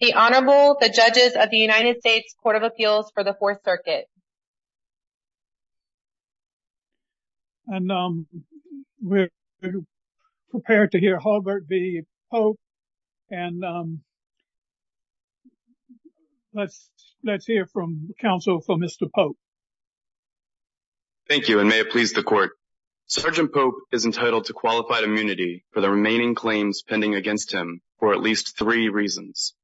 The Honorable, the Judges of the United States Court of Appeals for the Fourth Circuit And we're prepared to hear Hulbert v. Pope, and let's hear from counsel for Mr. Pope. Thank you, and may it please the Court. Sgt. Pope is entitled to qualified immunity for the remaining claims pending against him for at least three reasons.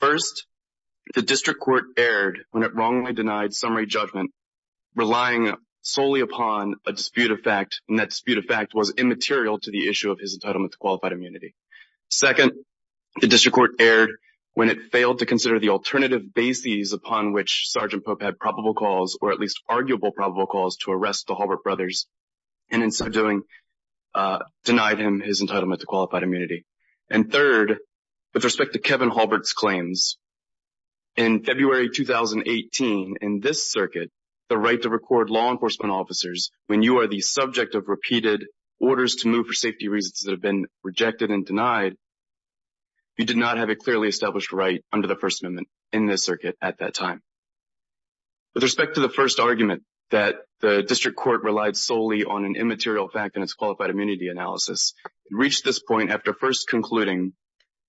First, the District Court erred when it wrongly denied summary judgment, relying solely upon a dispute of fact, and that dispute of fact was immaterial to the issue of his entitlement to qualified immunity. Second, the District Court erred when it failed to consider the alternative bases upon which Sgt. Pope had probable calls, or at least arguable probable calls, to arrest the Hulbert brothers, and in so doing denied him his entitlement to qualified immunity. And third, with respect to Kevin Hulbert's claims, in February 2018, in this circuit, the right to record law enforcement officers when you are the subject of repeated orders to move for safety reasons that have been rejected and denied, you did not have a clearly established right under the First Amendment in this circuit at that time. With respect to the first argument that the District Court relied solely on an immaterial fact in its qualified immunity analysis, it reached this point after first concluding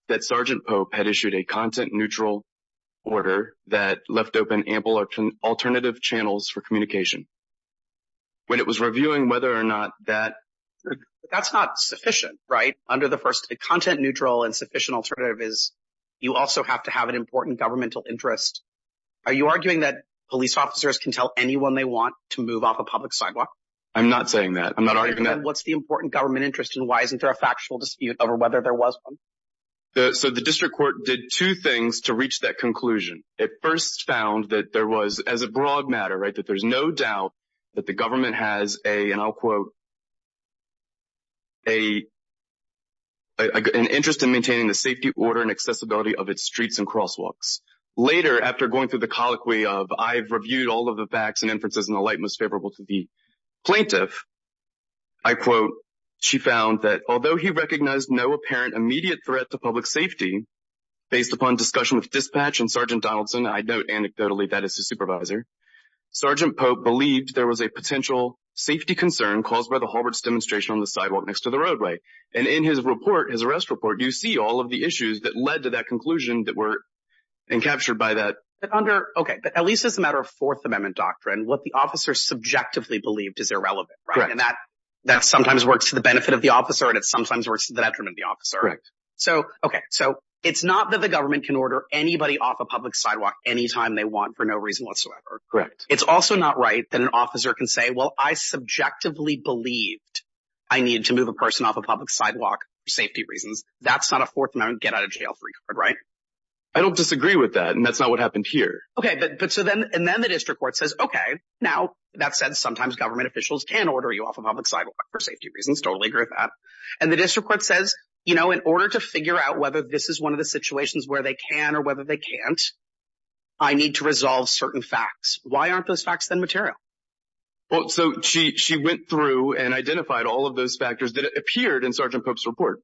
that Sgt. Pope had issued a content-neutral order that left open ample alternative channels for communication. When it was reviewing whether or not that – That's not sufficient, right? Content-neutral and sufficient alternative is you also have to have an important governmental interest. Are you arguing that police officers can tell anyone they want to move off a public sidewalk? I'm not saying that. I'm not arguing that. What's the important government interest, and why isn't there a factual dispute over whether there was one? So the District Court did two things to reach that conclusion. It first found that there was, as a broad matter, right, that there's no doubt that the government has a, and I'll quote, an interest in maintaining the safety order and accessibility of its streets and crosswalks. Later, after going through the colloquy of, I've reviewed all of the facts and inferences in the light most favorable to the plaintiff, I quote, she found that although he recognized no apparent immediate threat to public safety, based upon discussion with dispatch and Sgt. Donaldson, I note anecdotally that as his supervisor, Sgt. Pope believed there was a potential safety concern caused by the Hallward's demonstration on the sidewalk next to the roadway. And in his report, his arrest report, you see all of the issues that led to that conclusion that were encaptured by that. But under, okay, but at least as a matter of Fourth Amendment doctrine, what the officer subjectively believed is irrelevant, right? And that sometimes works to the benefit of the officer, and it sometimes works to the detriment of the officer. Correct. So, okay, so it's not that the government can order anybody off a public sidewalk anytime they want for no reason whatsoever. Correct. It's also not right that an officer can say, well, I subjectively believed I needed to move a person off a public sidewalk for safety reasons. That's not a Fourth Amendment get-out-of-jail-free card, right? I don't disagree with that, and that's not what happened here. Okay, but so then the district court says, okay, now that said, sometimes government officials can order you off a public sidewalk for safety reasons. Totally agree with that. And the district court says, you know, in order to figure out whether this is one of the situations where they can or whether they can't, I need to resolve certain facts. Why aren't those facts then material? Well, so she went through and identified all of those factors that appeared in Sgt. Pope's report.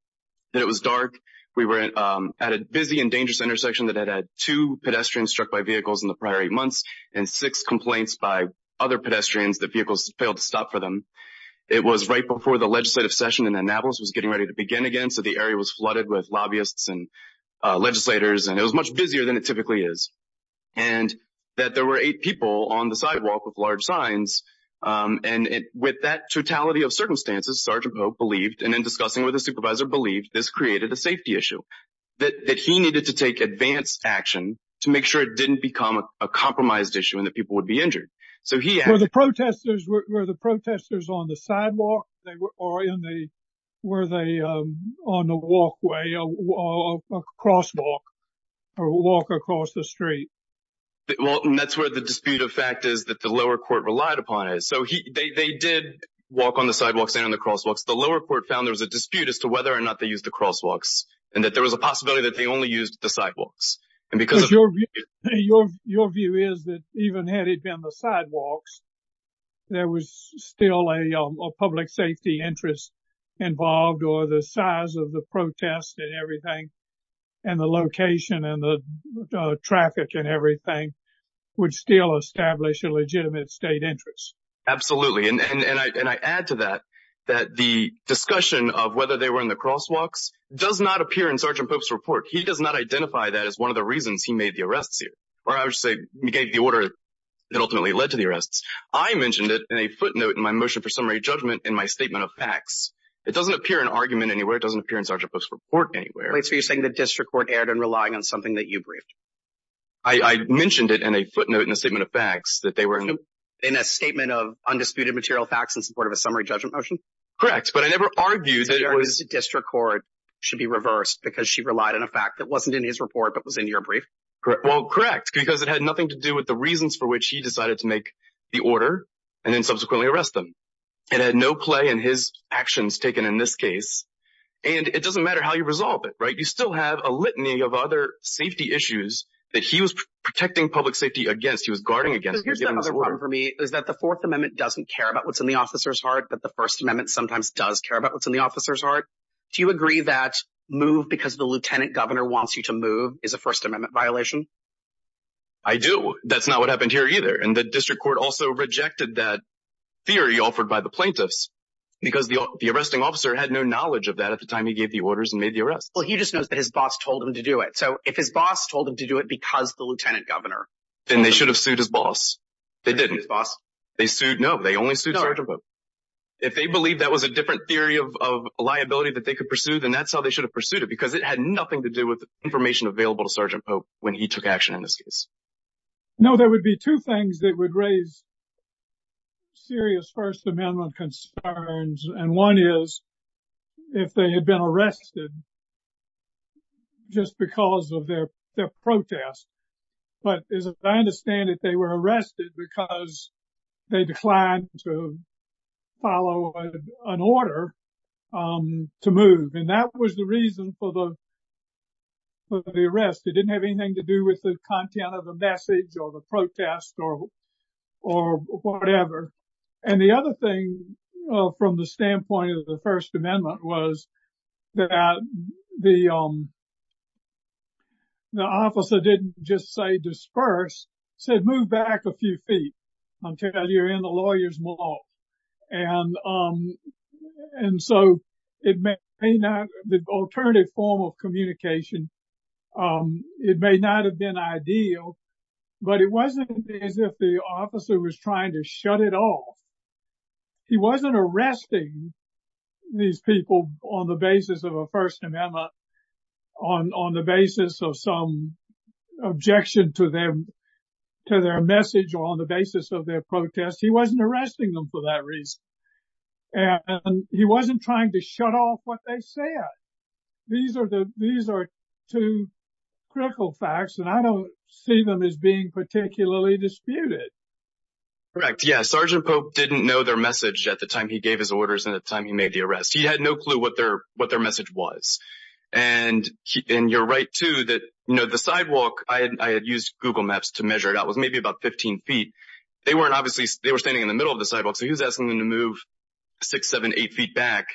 It was dark. We were at a busy and dangerous intersection that had had two pedestrians struck by vehicles in the prior eight months and six complaints by other pedestrians that vehicles failed to stop for them. It was right before the legislative session in Annapolis was getting ready to begin again, so the area was flooded with lobbyists and legislators, and it was much busier than it typically is. And that there were eight people on the sidewalk with large signs, and with that totality of circumstances, Sgt. Pope believed, and in discussing with the supervisor, believed this created a safety issue, that he needed to take advanced action to make sure it didn't become a compromised issue and that people would be injured. Were the protesters on the sidewalk or were they on the walkway, a crosswalk, or walk across the street? Well, that's where the dispute of fact is that the lower court relied upon it. So they did walk on the sidewalks and on the crosswalks. The lower court found there was a dispute as to whether or not they used the crosswalks, and that there was a possibility that they only used the sidewalks. Because your view is that even had it been the sidewalks, there was still a public safety interest involved, or the size of the protest and everything, and the location and the traffic and everything would still establish a legitimate state interest. Absolutely. And I add to that that the discussion of whether they were in the crosswalks does not appear in Sgt. Pope's report. He does not identify that as one of the reasons he made the arrests here, or I would say gave the order that ultimately led to the arrests. I mentioned it in a footnote in my motion for summary judgment in my statement of facts. It doesn't appear in argument anywhere. It doesn't appear in Sgt. Pope's report anywhere. Wait, so you're saying the district court erred in relying on something that you briefed? I mentioned it in a footnote in the statement of facts that they were in. In a statement of undisputed material facts in support of a summary judgment motion? Correct, but I never argued that it was... So the district court should be reversed because she relied on a fact that wasn't in his report but was in your brief? Well, correct, because it had nothing to do with the reasons for which he decided to make the order and then subsequently arrest them. It had no play in his actions taken in this case, and it doesn't matter how you resolve it, right? You still have a litany of other safety issues that he was protecting public safety against, he was guarding against. Here's the other problem for me, is that the Fourth Amendment doesn't care about what's in the officer's heart, but the First Amendment sometimes does care about what's in the officer's heart. Do you agree that move because the lieutenant governor wants you to move is a First Amendment violation? I do. That's not what happened here either, and the district court also rejected that theory offered by the plaintiffs because the arresting officer had no knowledge of that at the time he gave the orders and made the arrests. Well, he just knows that his boss told him to do it. So if his boss told him to do it because the lieutenant governor... Then they should have sued his boss. They didn't. They sued his boss? No, they only sued Sergeant Pope. If they believed that was a different theory of liability that they could pursue, then that's how they should have pursued it because it had nothing to do with the information available to Sergeant Pope when he took action in this case. No, there would be two things that would raise serious First Amendment concerns, and one is if they had been arrested just because of their protest. But as I understand it, they were arrested because they declined to follow an order to move, and that was the reason for the arrest. It didn't have anything to do with the content of the message or the protest or whatever. And the other thing from the standpoint of the First Amendment was that the officer didn't just say disperse, he said move back a few feet until you're in the lawyers' mall. And so it may not be the alternative form of communication. It may not have been ideal, but it wasn't as if the officer was trying to shut it off. He wasn't arresting these people on the basis of a First Amendment, on the basis of some objection to their message or on the basis of their protest. He wasn't arresting them for that reason, and he wasn't trying to shut off what they said. These are two critical facts, and I don't see them as being particularly disputed. Correct, yeah. Sergeant Pope didn't know their message at the time he gave his orders and at the time he made the arrest. He had no clue what their message was. And you're right, too, that the sidewalk, I had used Google Maps to measure it. It was maybe about 15 feet. They were standing in the middle of the sidewalk, so he was asking them to move six, seven, eight feet back.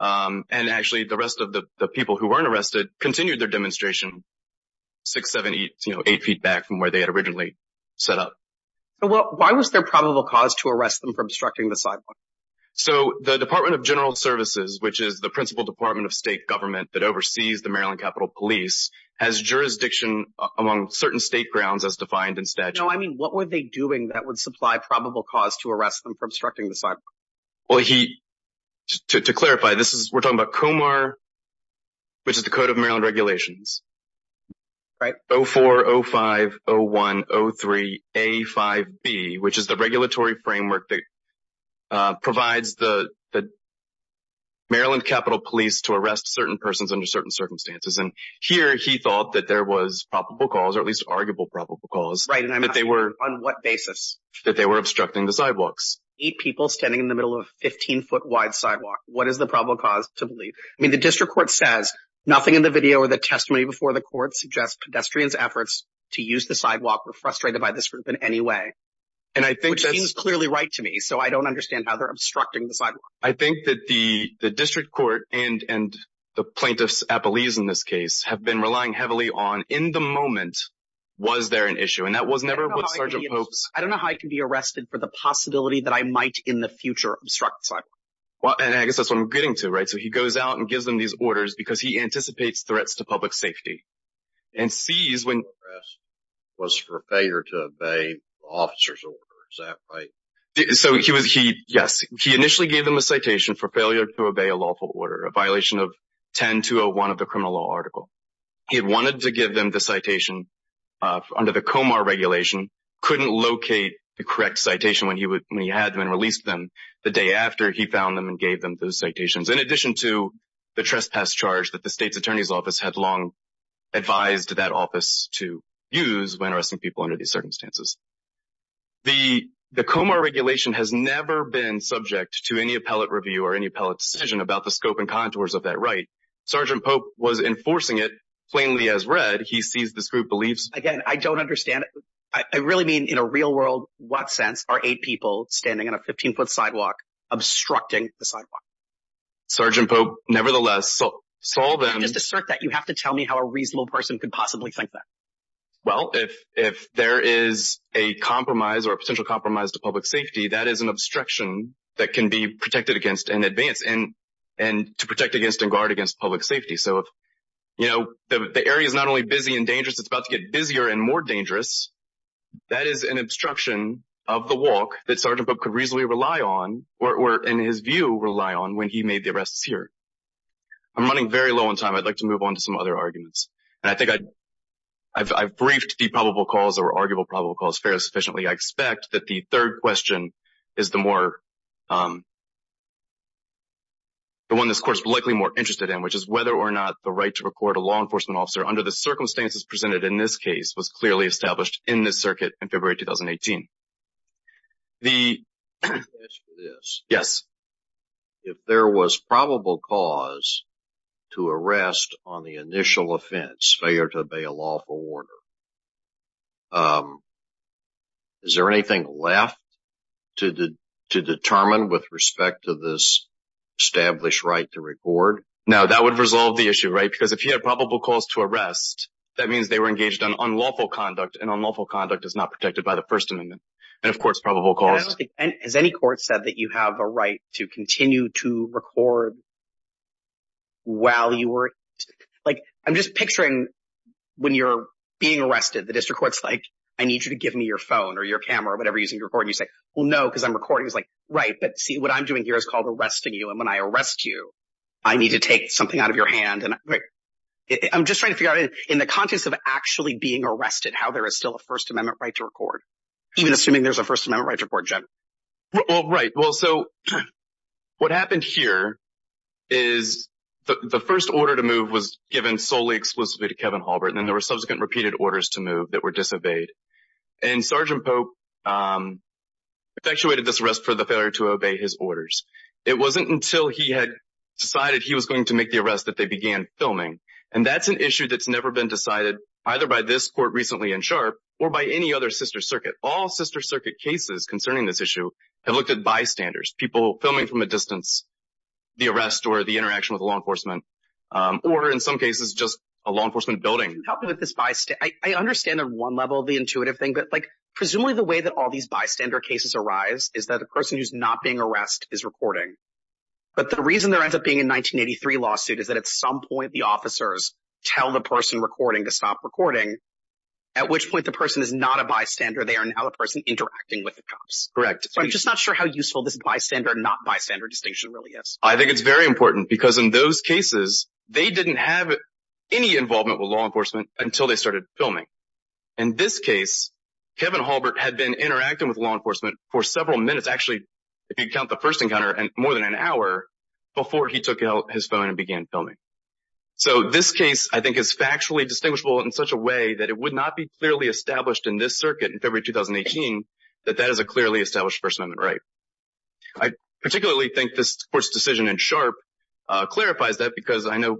And actually the rest of the people who weren't arrested continued their demonstration six, seven, eight feet back from where they had originally set up. Why was there probable cause to arrest them for obstructing the sidewalk? So the Department of General Services, which is the principal department of state government that oversees the Maryland Capitol Police, has jurisdiction among certain state grounds as defined in statute. No, I mean what were they doing that would supply probable cause to arrest them for obstructing the sidewalk? Well, to clarify, we're talking about Comar, which is the Code of Maryland Regulations. Right. And then we have 04050103A5B, which is the regulatory framework that provides the Maryland Capitol Police to arrest certain persons under certain circumstances. And here he thought that there was probable cause, or at least arguable probable cause. Right, and I'm asking on what basis? That they were obstructing the sidewalks. Eight people standing in the middle of a 15-foot wide sidewalk. What is the probable cause to believe? I mean, the district court says, nothing in the video or the testimony before the court suggests pedestrians' efforts to use the sidewalk were frustrated by this group in any way. And I think that's— Which seems clearly right to me, so I don't understand how they're obstructing the sidewalk. I think that the district court and the plaintiffs' appellees in this case have been relying heavily on, in the moment, was there an issue. And that was never what Sergeant Pope's— I don't know how I can be arrested for the possibility that I might in the future obstruct the sidewalk. Well, and I guess that's what I'm getting to, right? So he goes out and gives them these orders because he anticipates threats to public safety. And sees when— —was for failure to obey officer's order. Is that right? So he was—yes. He initially gave them a citation for failure to obey a lawful order, a violation of 10-201 of the criminal law article. He had wanted to give them the citation under the Comar regulation, couldn't locate the correct citation when he had them and released them. The day after, he found them and gave them those citations. In addition to the trespass charge that the state's attorney's office had long advised that office to use when arresting people under these circumstances. The Comar regulation has never been subject to any appellate review or any appellate decision about the scope and contours of that right. Sergeant Pope was enforcing it plainly as read. He sees this group believes— Again, I don't understand. I really mean in a real-world what sense are eight people standing on a 15-foot sidewalk obstructing the sidewalk? Sergeant Pope nevertheless saw them— Just assert that. You have to tell me how a reasonable person could possibly think that. Well, if there is a compromise or a potential compromise to public safety, that is an obstruction that can be protected against in advance and to protect against and guard against public safety. So if the area is not only busy and dangerous, it's about to get busier and more dangerous, that is an obstruction of the walk that Sergeant Pope could reasonably rely on or in his view rely on when he made the arrests here. I'm running very low on time. I'd like to move on to some other arguments. And I think I've briefed the probable cause or arguable probable cause fairly sufficiently. I expect that the third question is the one this court is likely more interested in, which is whether or not the right to record a law enforcement officer under the circumstances presented in this case was clearly established in this circuit in February 2018. The— Yes. If there was probable cause to arrest on the initial offense, failure to obey a lawful order, is there anything left to determine with respect to this established right to record? No, that would resolve the issue, right? Because if you had probable cause to arrest, that means they were engaged in unlawful conduct, and unlawful conduct is not protected by the First Amendment. And of course, probable cause— Has any court said that you have a right to continue to record while you were— Like, I'm just picturing when you're being arrested, the district court's like, I need you to give me your phone or your camera or whatever you're using to record. And you say, well, no, because I'm recording. He's like, right, but see, what I'm doing here is called arresting you. And when I arrest you, I need to take something out of your hand. And I'm just trying to figure out in the context of actually being arrested how there is still a First Amendment right to record, even assuming there's a First Amendment right to record, Jim. Well, right. Well, so what happened here is the first order to move was given solely explicitly to Kevin Halbert, and then there were subsequent repeated orders to move that were disobeyed. And Sergeant Pope effectuated this arrest for the failure to obey his orders. It wasn't until he had decided he was going to make the arrest that they began filming. And that's an issue that's never been decided either by this court recently in Sharp or by any other sister circuit. All sister circuit cases concerning this issue have looked at bystanders, people filming from a distance, the arrest or the interaction with law enforcement, or in some cases just a law enforcement building. I understand on one level the intuitive thing, but presumably the way that all these bystander cases arise is that the person who's not being arrested is recording. But the reason there ends up being a 1983 lawsuit is that at some point the officers tell the person recording to stop recording, at which point the person is not a bystander. They are now a person interacting with the cops. Correct. I'm just not sure how useful this bystander, not bystander distinction really is. I think it's very important because in those cases, they didn't have any involvement with law enforcement until they started filming. In this case, Kevin Halbert had been interacting with law enforcement for several minutes, actually if you count the first encounter, more than an hour before he took out his phone and began filming. So this case, I think, is factually distinguishable in such a way that it would not be clearly established in this circuit in February 2018 that that is a clearly established First Amendment right. I particularly think this court's decision in Sharp clarifies that because I know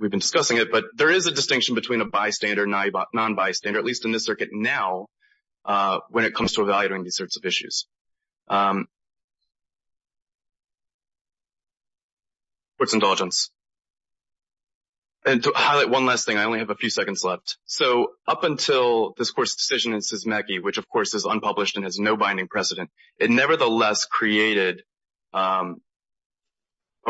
we've been discussing it, but there is a distinction between a bystander and a non-bystander, at least in this circuit now, when it comes to evaluating these sorts of issues. Court's indulgence. And to highlight one last thing, I only have a few seconds left. So up until this court's decision in Sismecki, which of course is unpublished and has no binding precedent, it nevertheless created a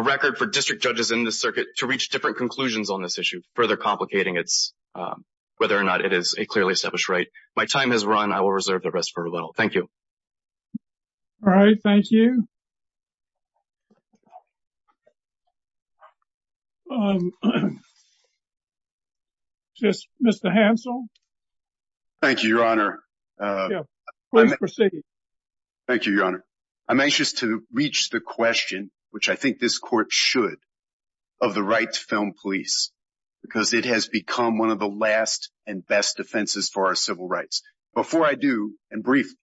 record for district judges in this circuit to reach different conclusions on this issue, further complicating whether or not it is a clearly established right. My time has run. I will reserve the rest for rebuttal. Thank you. All right. Thank you. Mr. Hansel? Thank you, Your Honor. Please proceed. Thank you, Your Honor. I'm anxious to reach the question, which I think this court should, of the right to film police, because it has become one of the last and best defenses for our civil rights. Before I do, and briefly,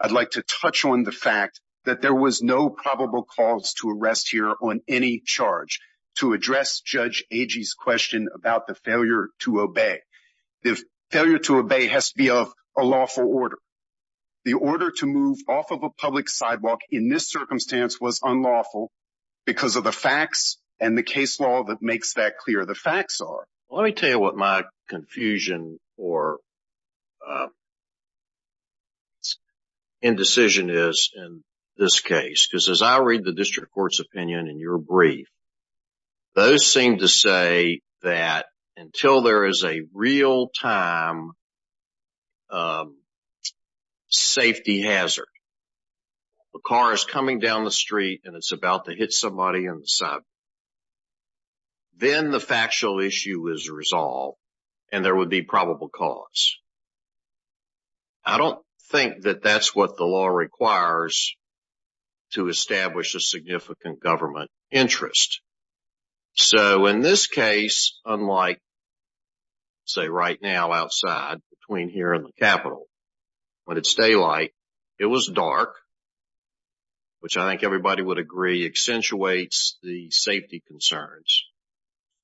I'd like to touch on the fact that there was no probable cause to arrest here on any charge to address Judge Agee's question about the failure to obey. The failure to obey has to be of a lawful order. The order to move off of a public sidewalk in this circumstance was unlawful because of the facts and the case law that makes that clear the facts are. Let me tell you what my confusion or indecision is in this case, because as I read the district court's opinion in your brief, those seem to say that until there is a real-time safety hazard, a car is coming down the street and it's about to hit somebody in the sidewalk, then the factual issue is resolved and there would be probable cause. I don't think that that's what the law requires to establish a significant government interest. So in this case, unlike, say, right now outside between here and the Capitol, when it's daylight, it was dark, which I think everybody would agree accentuates the safety concerns.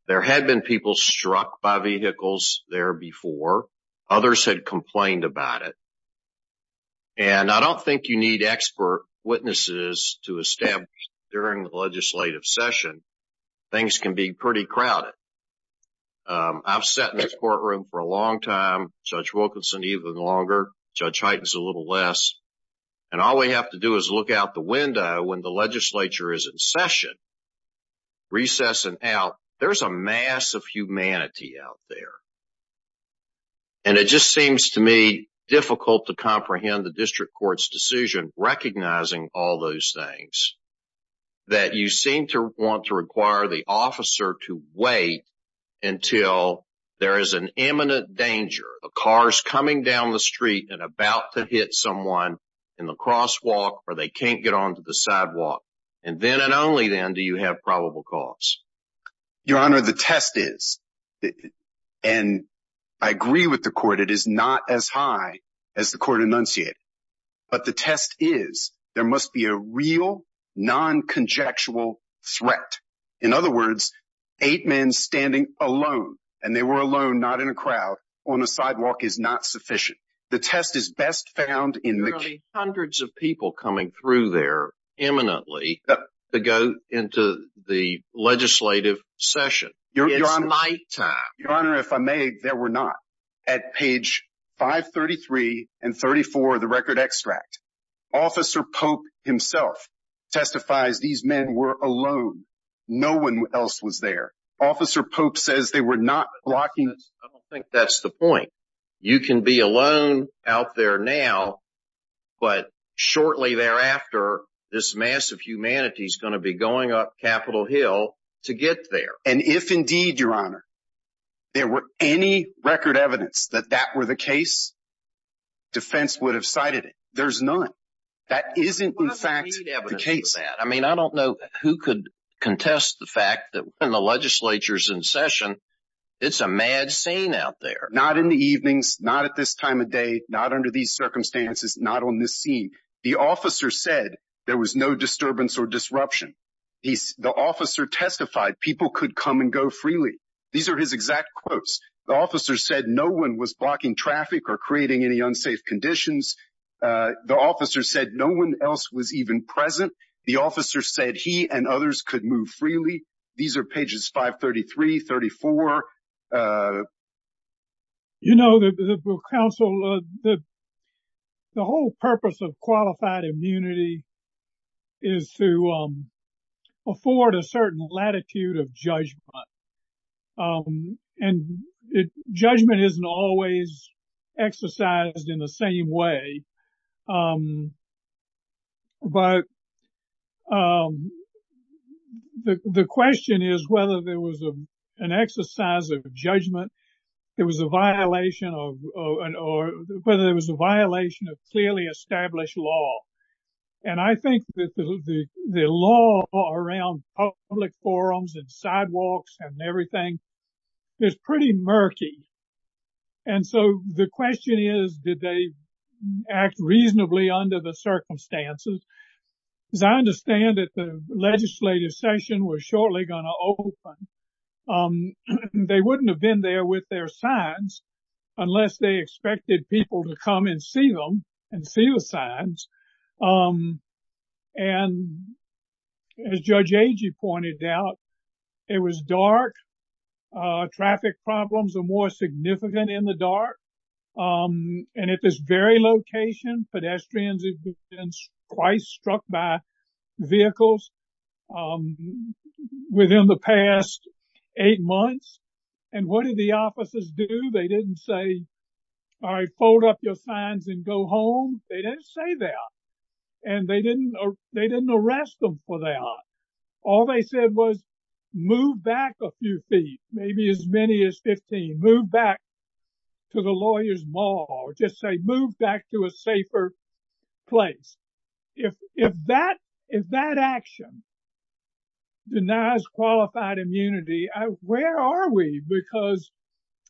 There had been people struck by vehicles there before. Others had complained about it. And I don't think you need expert witnesses to establish during the legislative session. Things can be pretty crowded. I've sat in this courtroom for a long time. Judge Wilkinson even longer. Judge Hyten's a little less. And all we have to do is look out the window when the legislature is in session, recess and out, there's a mass of humanity out there. And it just seems to me difficult to comprehend the district court's decision recognizing all those things, that you seem to want to require the officer to wait until there is an imminent danger. A car's coming down the street and about to hit someone in the crosswalk or they can't get onto the sidewalk. And then and only then do you have probable cause. Your Honor, the test is, and I agree with the court, it is not as high as the court enunciated. But the test is there must be a real non-conjectual threat. In other words, eight men standing alone, and they were alone, not in a crowd, on a sidewalk is not sufficient. The test is best found in the. Hundreds of people coming through there imminently to go into the legislative session. It's nighttime. Your Honor, if I may, there were not. At page 533 and 34, the record extract officer Pope himself testifies these men were alone. No one else was there. Officer Pope says they were not blocking. I don't think that's the point. You can be alone out there now. But shortly thereafter, this mass of humanity is going to be going up Capitol Hill to get there. And if indeed, Your Honor. There were any record evidence that that were the case. Defense would have cited it. There's none. That isn't, in fact, the case. I mean, I don't know who could contest the fact that when the legislature is in session, it's a mad scene out there. Not in the evenings, not at this time of day, not under these circumstances, not on this scene. The officer said there was no disturbance or disruption. The officer testified people could come and go freely. These are his exact quotes. The officer said no one was blocking traffic or creating any unsafe conditions. The officer said no one else was even present. The officer said he and others could move freely. These are pages 533, 34. You know, counsel, the whole purpose of qualified immunity is to afford a certain latitude of judgment. And judgment isn't always exercised in the same way. But the question is whether there was an exercise of judgment. It was a violation of whether there was a violation of clearly established law. And I think that the law around public forums and sidewalks and everything is pretty murky. And so the question is, did they act reasonably under the circumstances? As I understand it, the legislative session was shortly going to open. They wouldn't have been there with their signs unless they expected people to come and see them and see the signs. And as Judge Agee pointed out, it was dark. Traffic problems are more significant in the dark. And at this very location, pedestrians have been twice struck by vehicles within the past eight months. And what did the officers do? They didn't say, all right, fold up your signs and go home. They didn't say that. And they didn't arrest them for that. All they said was move back a few feet, maybe as many as 15. Move back to the lawyers' mall. Just say move back to a safer place. If that action denies qualified immunity, where are we? Because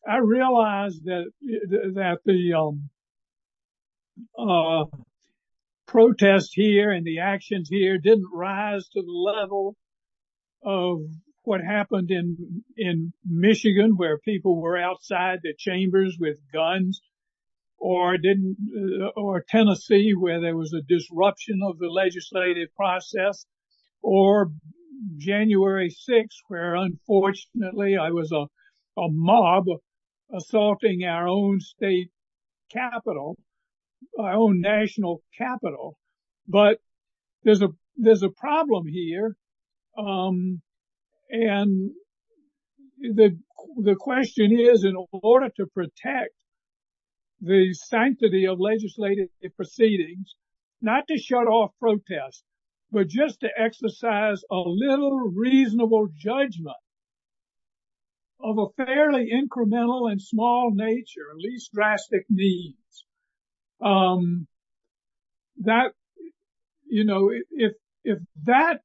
I realize that the protests here and the actions here didn't rise to the level of what happened in Michigan, where people were outside the chambers with guns, or Tennessee, where there was a disruption of the legislative process, or January 6th, where unfortunately I was a mob assaulting our own state capital, our own national capital. But there's a problem here. And the question is, in order to protect the sanctity of legislative proceedings, not to shut off protests, but just to exercise a little reasonable judgment of a fairly incremental and small nature, at least drastic needs, that, you know, if that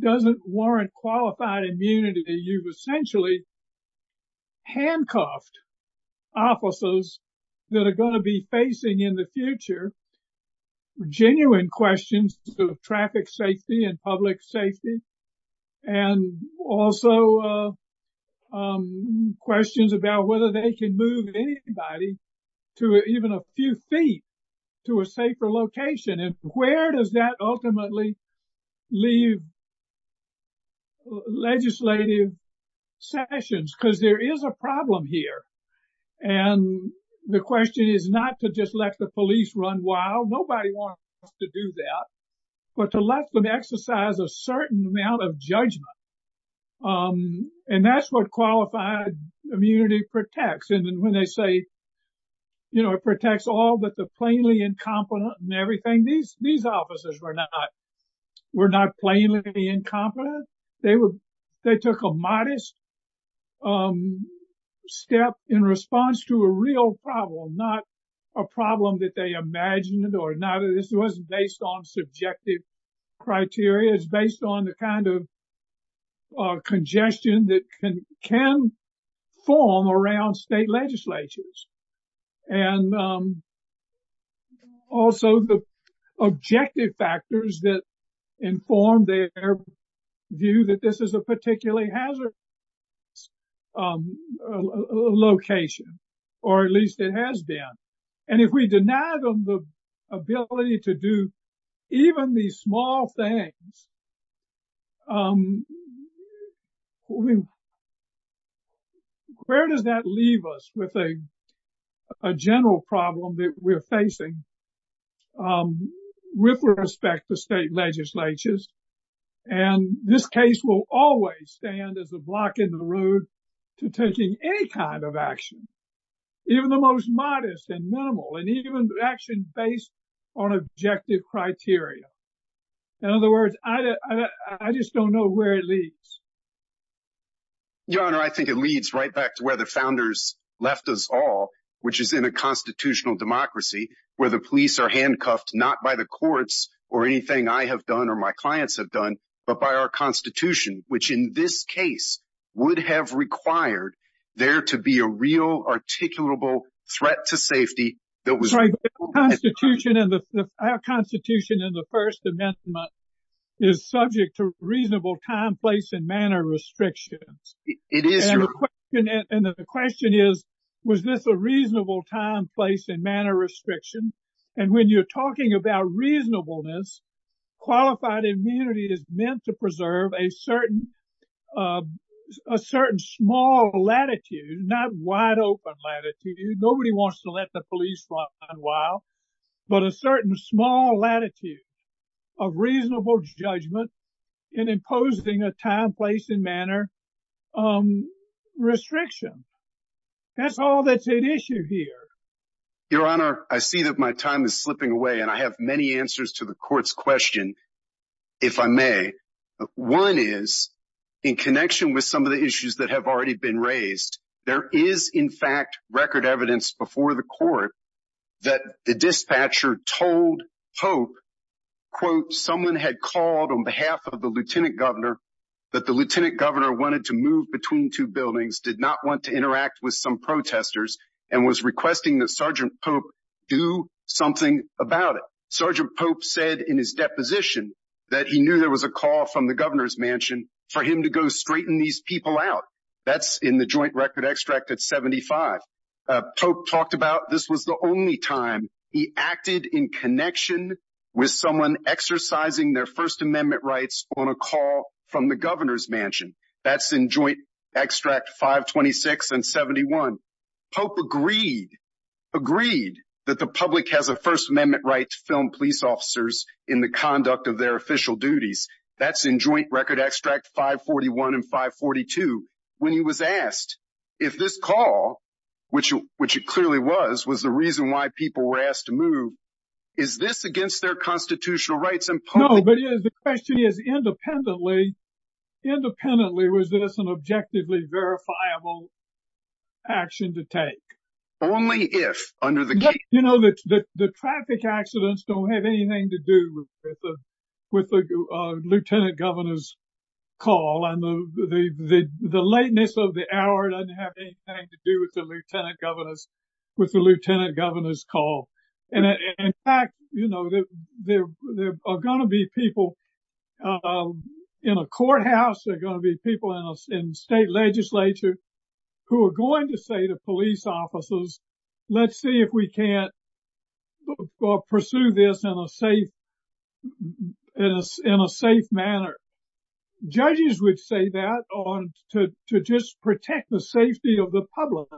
doesn't warrant qualified immunity, then you've essentially handcuffed officers that are going to be facing in the future genuine questions of traffic safety and public safety and also questions about whether they can move anybody to even a few feet to a safer location. And where does that ultimately leave legislative sessions? Because there is a problem here. And the question is not to just let the police run wild. Nobody wants to do that. But to let them exercise a certain amount of judgment. And that's what qualified immunity protects. And when they say, you know, it protects all but the plainly incompetent and everything, these officers were not plainly incompetent. They took a modest step in response to a real problem, not a problem that they imagined or neither. This wasn't based on subjective criteria. It's based on the kind of congestion that can form around state legislatures. And also the objective factors that inform their view that this is a particularly hazardous location, or at least it has been. And if we deny them the ability to do even these small things, where does that leave us with a general problem that we're facing with respect to state legislatures? And this case will always stand as a block in the road to taking any kind of action, even the most modest and minimal and even action based on objective criteria. In other words, I just don't know where it leads. Your Honor, I think it leads right back to where the founders left us all, which is in a constitutional democracy where the police are handcuffed, not by the courts or anything I have done or my clients have done, but by our Constitution, which in this case would have required there to be a real articulable threat to safety. Our Constitution in the First Amendment is subject to reasonable time, place and manner restrictions. And the question is, was this a reasonable time, place and manner restriction? And when you're talking about reasonableness, qualified immunity is meant to preserve a certain small latitude, not wide open latitude, nobody wants to let the police run wild, but a certain small latitude of reasonable judgment in imposing a time, place and manner restriction. That's all that's at issue here. Your Honor, I see that my time is slipping away and I have many answers to the court's question, if I may. One is in connection with some of the issues that have already been raised. There is, in fact, record evidence before the court that the dispatcher told Pope, quote, someone had called on behalf of the lieutenant governor that the lieutenant governor wanted to move between two buildings, did not want to interact with some protesters and was requesting that Sergeant Pope do something about it. Sergeant Pope said in his deposition that he knew there was a call from the governor's mansion for him to go straighten these people out. That's in the joint record extract at 75. Pope talked about this was the only time he acted in connection with someone exercising their First Amendment rights on a call from the governor's mansion. That's in joint extract 526 and 71. Pope agreed, agreed that the public has a First Amendment right to film police officers in the conduct of their official duties. That's in joint record extract 541 and 542. When he was asked if this call, which which it clearly was, was the reason why people were asked to move. Is this against their constitutional rights? No, but the question is, independently, independently, was this an objectively verifiable action to take? Only if under the gate. You know, the traffic accidents don't have anything to do with the lieutenant governor's call. And the lateness of the hour doesn't have anything to do with the lieutenant governor's call. And in fact, you know, there are going to be people in a courthouse, there are going to be people in state legislature who are going to say to police officers, let's see if we can't pursue this in a safe manner. Judges would say that to just protect the safety of the public.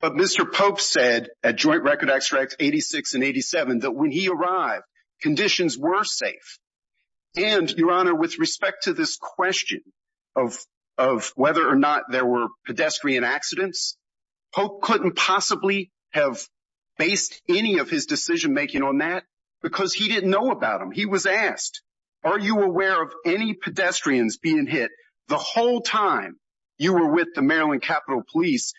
But Mr. Pope said at joint record extract 86 and 87 that when he arrived, conditions were safe. And your honor, with respect to this question of of whether or not there were pedestrian accidents, Pope couldn't possibly have based any of his decision making on that because he didn't know about him. He was asked, are you aware of any pedestrians being hit the whole time you were with the Maryland Capitol Police?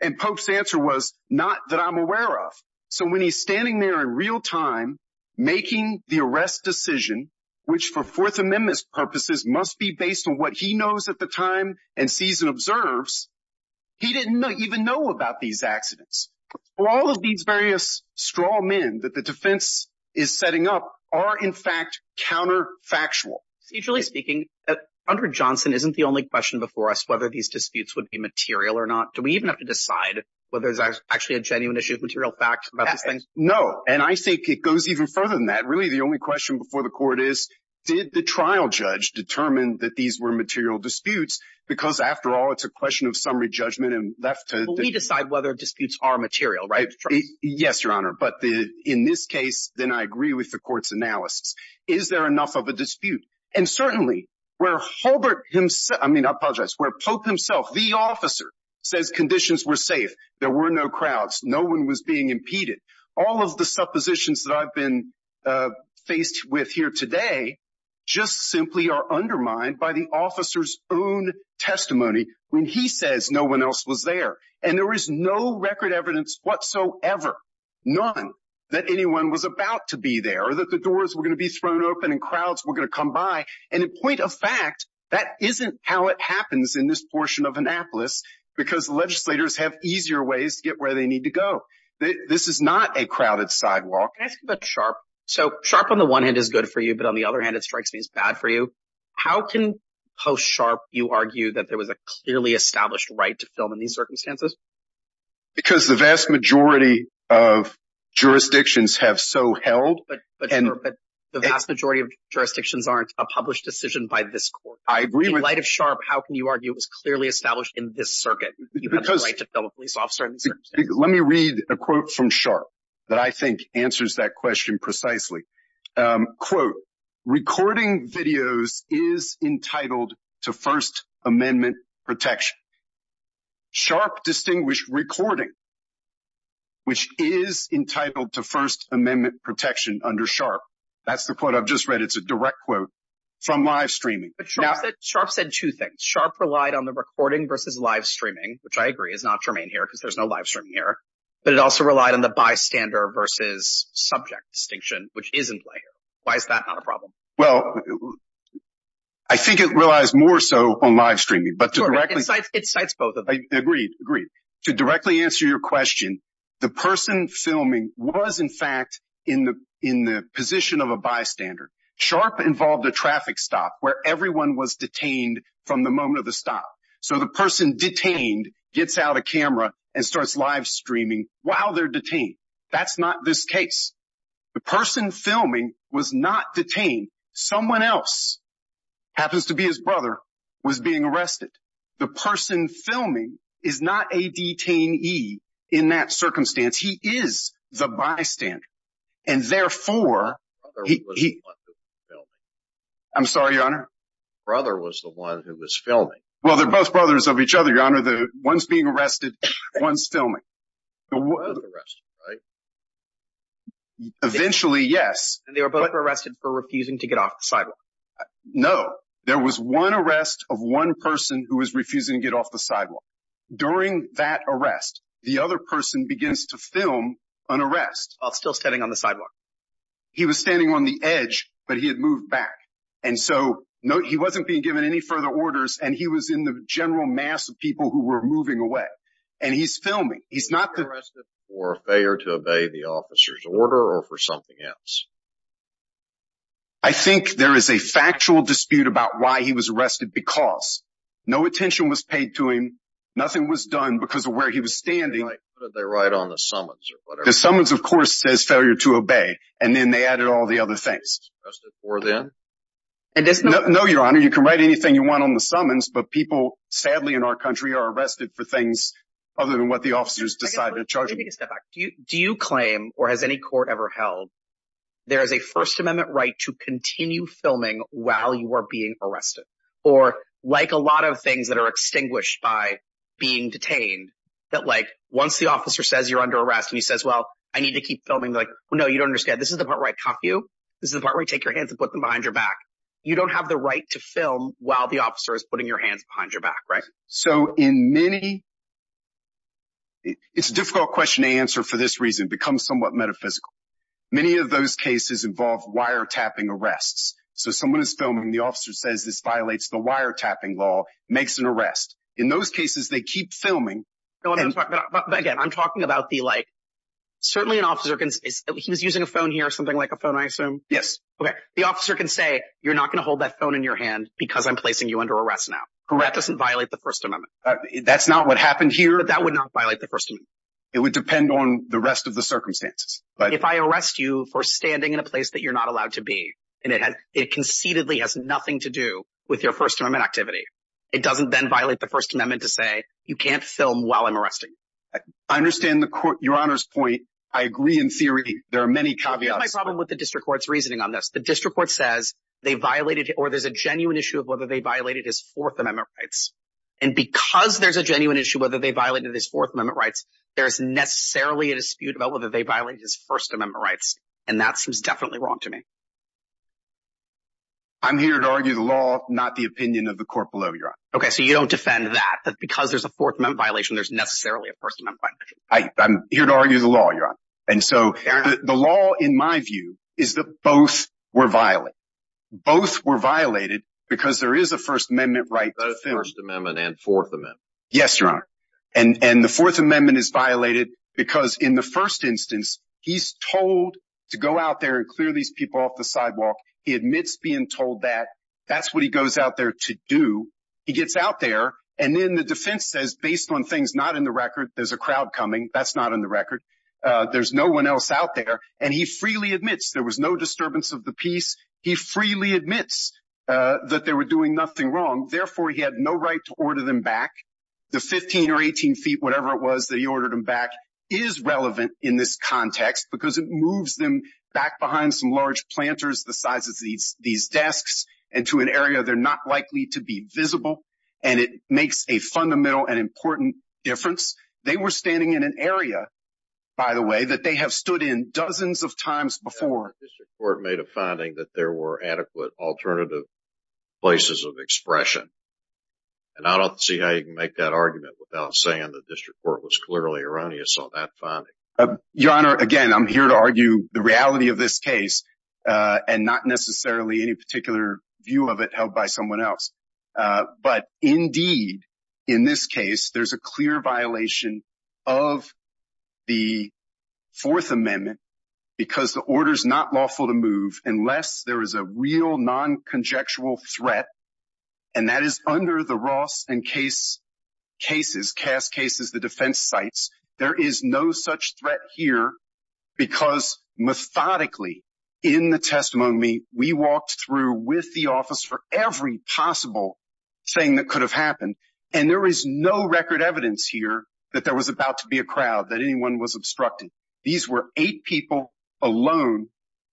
And Pope's answer was not that I'm aware of. So when he's standing there in real time making the arrest decision, which for Fourth Amendment purposes must be based on what he knows at the time and sees and observes, he didn't even know about these accidents. All of these various straw men that the defense is setting up are in fact counterfactual. Procedurally speaking, under Johnson, isn't the only question before us whether these disputes would be material or not? Do we even have to decide whether there's actually a genuine issue of material facts about these things? No. And I think it goes even further than that. Really, the only question before the court is, did the trial judge determine that these were material disputes? Because after all, it's a question of summary judgment and left to decide whether disputes are material. Yes, Your Honor. But in this case, then I agree with the court's analysis. Is there enough of a dispute? And certainly, where Pope himself, the officer, says conditions were safe, there were no crowds, no one was being impeded. All of the suppositions that I've been faced with here today just simply are undermined by the officer's own testimony when he says no one else was there. And there is no record evidence whatsoever, none, that anyone was about to be there or that the doors were going to be thrown open and crowds were going to come by. And in point of fact, that isn't how it happens in this portion of Annapolis because legislators have easier ways to get where they need to go. This is not a crowded sidewalk. Can I ask you about Sharpe? So Sharpe, on the one hand, is good for you, but on the other hand, it strikes me as bad for you. How can post-Sharpe you argue that there was a clearly established right to film in these circumstances? Because the vast majority of jurisdictions have so held. But the vast majority of jurisdictions aren't a published decision by this court. In light of Sharpe, how can you argue it was clearly established in this circuit? Let me read a quote from Sharpe that I think answers that question precisely. Quote, recording videos is entitled to First Amendment protection. Sharpe distinguished recording, which is entitled to First Amendment protection under Sharpe. That's the quote I've just read. It's a direct quote from live streaming. Sharpe said two things. Sharpe relied on the recording versus live streaming, which I agree is not germane here because there's no live streaming here. But it also relied on the bystander versus subject distinction, which is in play here. Why is that not a problem? Well, I think it relies more so on live streaming. Sure, it cites both of them. Agreed, agreed. To directly answer your question, the person filming was, in fact, in the position of a bystander. Sharpe involved a traffic stop where everyone was detained from the moment of the stop. So the person detained gets out of camera and starts live streaming while they're detained. That's not this case. The person filming was not detained. Someone else, happens to be his brother, was being arrested. The person filming is not a detainee in that circumstance. He is the bystander. And, therefore, he— Brother was the one who was filming. I'm sorry, Your Honor? Brother was the one who was filming. Well, they're both brothers of each other, Your Honor. One's being arrested, one's filming. Both arrested, right? Eventually, yes. And they were both arrested for refusing to get off the sidewalk. No. There was one arrest of one person who was refusing to get off the sidewalk. During that arrest, the other person begins to film an arrest. While still standing on the sidewalk. He was standing on the edge, but he had moved back. And so, he wasn't being given any further orders, and he was in the general mass of people who were moving away. And he's filming. He's not the— Arrested for failure to obey the officer's order or for something else? I think there is a factual dispute about why he was arrested because. No attention was paid to him. Nothing was done because of where he was standing. What did they write on the summons or whatever? The summons, of course, says failure to obey. And then they added all the other things. No, Your Honor. You can write anything you want on the summons, but people, sadly, in our country are arrested for things other than what the officers decided to charge them. Let me take a step back. Do you claim, or has any court ever held, there is a First Amendment right to continue filming while you are being arrested? Or, like a lot of things that are extinguished by being detained, that, like, once the officer says you're under arrest and he says, well, I need to keep filming, they're like, no, you don't understand. This is the part where I cuff you. This is the part where I take your hands and put them behind your back. You don't have the right to film while the officer is putting your hands behind your back, right? So in many – it's a difficult question to answer for this reason. It becomes somewhat metaphysical. Many of those cases involve wiretapping arrests. So someone is filming. The officer says this violates the wiretapping law, makes an arrest. In those cases, they keep filming. But, again, I'm talking about the, like, certainly an officer can – he was using a phone here, something like a phone, I assume? Yes. Okay. The officer can say you're not going to hold that phone in your hand because I'm placing you under arrest now. Correct. That doesn't violate the First Amendment. That's not what happened here? That would not violate the First Amendment. It would depend on the rest of the circumstances. If I arrest you for standing in a place that you're not allowed to be and it conceitedly has nothing to do with your First Amendment activity, it doesn't then violate the First Amendment to say you can't film while I'm arresting you. I understand the court – your Honor's point. I agree in theory. There are many caveats. That's my problem with the district court's reasoning on this. The district court says they violated – or there's a genuine issue of whether they violated his Fourth Amendment rights. And because there's a genuine issue whether they violated his Fourth Amendment rights, there's necessarily a dispute about whether they violated his First Amendment rights. And that seems definitely wrong to me. I'm here to argue the law, not the opinion of the court below, Your Honor. Okay, so you don't defend that, that because there's a Fourth Amendment violation, there's necessarily a First Amendment violation. I'm here to argue the law, Your Honor. And so the law, in my view, is that both were violated. Both were violated because there is a First Amendment right to film. Both First Amendment and Fourth Amendment. Yes, Your Honor. And the Fourth Amendment is violated because in the first instance, he's told to go out there and clear these people off the sidewalk. He admits being told that. That's what he goes out there to do. He gets out there, and then the defense says, based on things not in the record, there's a crowd coming. That's not in the record. There's no one else out there. And he freely admits there was no disturbance of the peace. He freely admits that they were doing nothing wrong. Therefore, he had no right to order them back. The 15 or 18 feet, whatever it was that he ordered them back, is relevant in this context, because it moves them back behind some large planters the size of these desks and to an area they're not likely to be visible. And it makes a fundamental and important difference. They were standing in an area, by the way, that they have stood in dozens of times before. The district court made a finding that there were adequate alternative places of expression. And I don't see how you can make that argument without saying the district court was clearly erroneous on that finding. Your Honor, again, I'm here to argue the reality of this case and not necessarily any particular view of it held by someone else. But, indeed, in this case, there's a clear violation of the Fourth Amendment because the order's not lawful to move unless there is a real non-conjectual threat, and that is under the Ross and Cass cases, the defense sites. There is no such threat here because, methodically, in the testimony, we walked through with the office for every possible thing that could have happened, and there is no record evidence here that there was about to be a crowd, that anyone was obstructed. These were eight people alone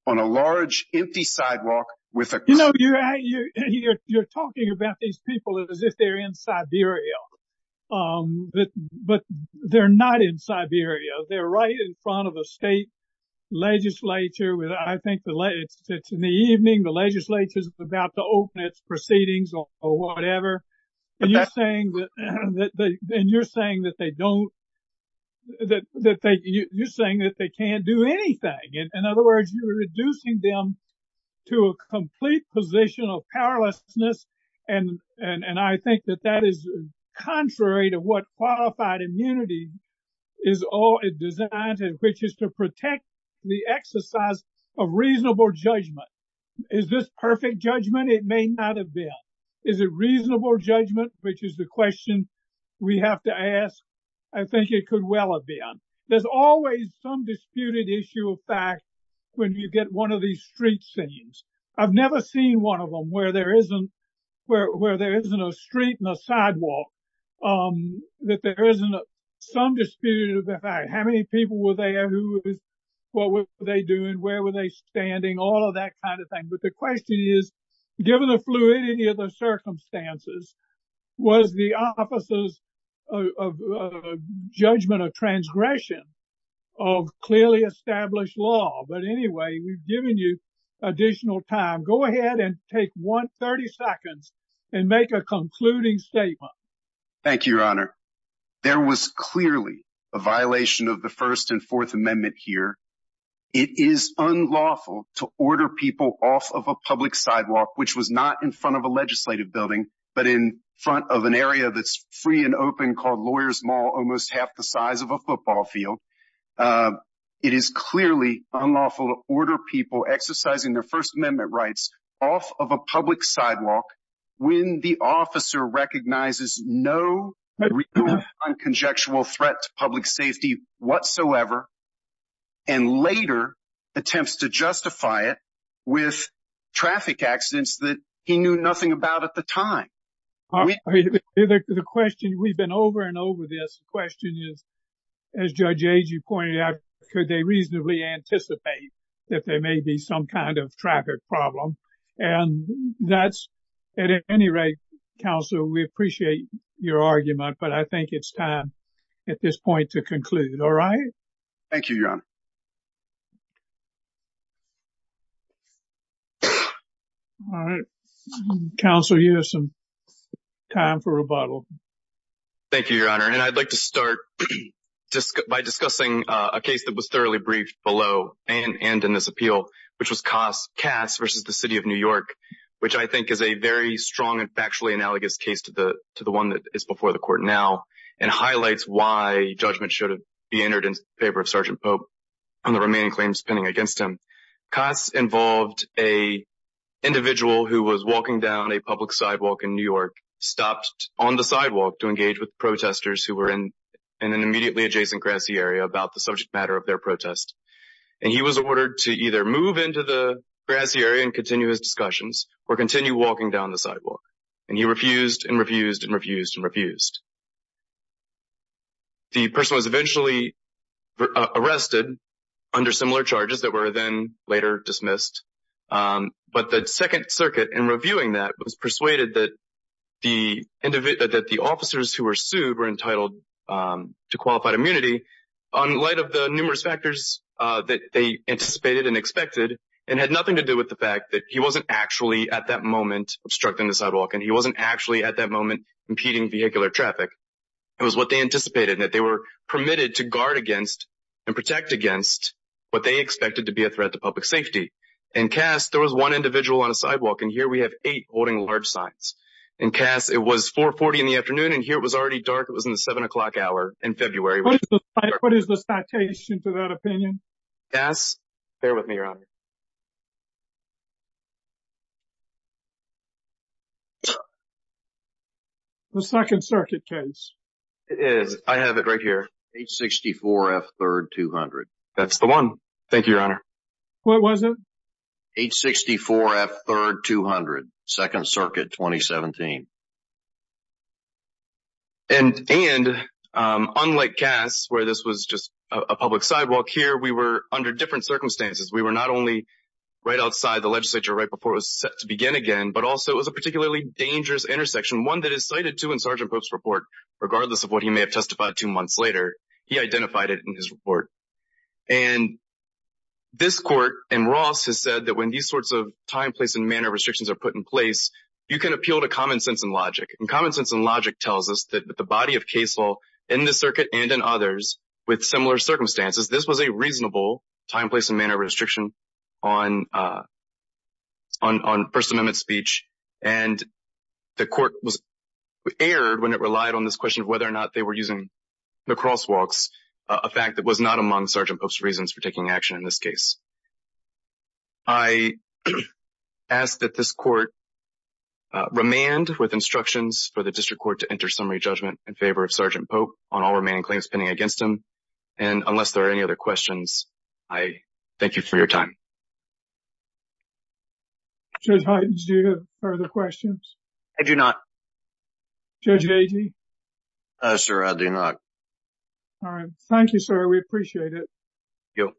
on a large, empty sidewalk with a crowd. You know, you're talking about these people as if they're in Siberia, but they're not in Siberia. They're right in front of a state legislature. I think it's in the evening. The legislature's about to open its proceedings or whatever, and you're saying that they can't do anything. In other words, you're reducing them to a complete position of powerlessness, and I think that that is contrary to what qualified immunity is designed to, which is to protect the exercise of reasonable judgment. Is this perfect judgment? It may not have been. Is it reasonable judgment, which is the question we have to ask? I think it could well have been. There's always some disputed issue of fact when you get one of these street scenes. I've never seen one of them where there isn't a street and a sidewalk, that there isn't some disputed fact. How many people were there? What were they doing? Where were they standing? All of that kind of thing. But the question is, given the fluidity of the circumstances, was the officers' judgment a transgression of clearly established law? But anyway, we've given you additional time. Go ahead and take 30 seconds and make a concluding statement. Thank you, Your Honor. There was clearly a violation of the First and Fourth Amendment here. It is unlawful to order people off of a public sidewalk, which was not in front of a legislative building, but in front of an area that's free and open called Lawyers Mall, almost half the size of a football field. It is clearly unlawful to order people exercising their First Amendment rights off of a public sidewalk when the officer recognizes no real and conjectural threat to public safety whatsoever, and later attempts to justify it with traffic accidents that he knew nothing about at the time. The question, we've been over and over this, the question is, as Judge Agee pointed out, could they reasonably anticipate that there may be some kind of traffic problem? And that's, at any rate, counsel, we appreciate your argument, but I think it's time at this point to conclude. All right? Thank you, Your Honor. All right. Counsel, you have some time for rebuttal. Thank you, Your Honor, and I'd like to start by discussing a case that was thoroughly briefed below and in this appeal, which was Cass v. The City of New York, which I think is a very strong and factually analogous case to the one that is before the Court now and highlights why judgment should be entered in favor of Sergeant Pope and the remaining claims pending against him. Cass involved an individual who was walking down a public sidewalk in New York, stopped on the sidewalk to engage with protesters who were in an immediately adjacent grassy area about the subject matter of their protest, and he was ordered to either move into the grassy area and continue his discussions or continue walking down the sidewalk. And he refused and refused and refused and refused. The person was eventually arrested under similar charges that were then later dismissed, but the Second Circuit, in reviewing that, was persuaded that the officers who were sued were entitled to qualified immunity in light of the numerous factors that they anticipated and expected and had nothing to do with the fact that he wasn't actually, at that moment, obstructing the sidewalk and he wasn't actually, at that moment, impeding vehicular traffic. It was what they anticipated and that they were permitted to guard against and protect against what they expected to be a threat to public safety. In Cass, there was one individual on a sidewalk, and here we have eight holding large signs. In Cass, it was 4.40 in the afternoon, and here it was already dark. It was in the 7 o'clock hour in February. What is the citation to that opinion? Cass, bear with me, Your Honor. The Second Circuit case. It is. I have it right here, H64F3200. That's the one. Thank you, Your Honor. What was it? H64F3200, Second Circuit, 2017. And unlike Cass, where this was just a public sidewalk, here we were under different circumstances. We were not only right outside the legislature right before it was set to open, so it was a particularly dangerous intersection, one that is cited, too, in Sergeant Pope's report. Regardless of what he may have testified two months later, he identified it in his report. And this court in Ross has said that when these sorts of time, place, and manner restrictions are put in place, you can appeal to common sense and logic. And common sense and logic tells us that the body of case law in this circuit and in others with similar circumstances, this was a reasonable time, place, and manner restriction on First Circuit. And the court was aired when it relied on this question of whether or not they were using the crosswalks, a fact that was not among Sergeant Pope's reasons for taking action in this case. I ask that this court remand with instructions for the district court to enter summary judgment in favor of Sergeant Pope on all remaining claims pending against him. And unless there are any other questions, I thank you for your time. Judge Hytens, do you have further questions? I do not. Judge Agee? Sir, I do not. All right. We appreciate it. Thank you.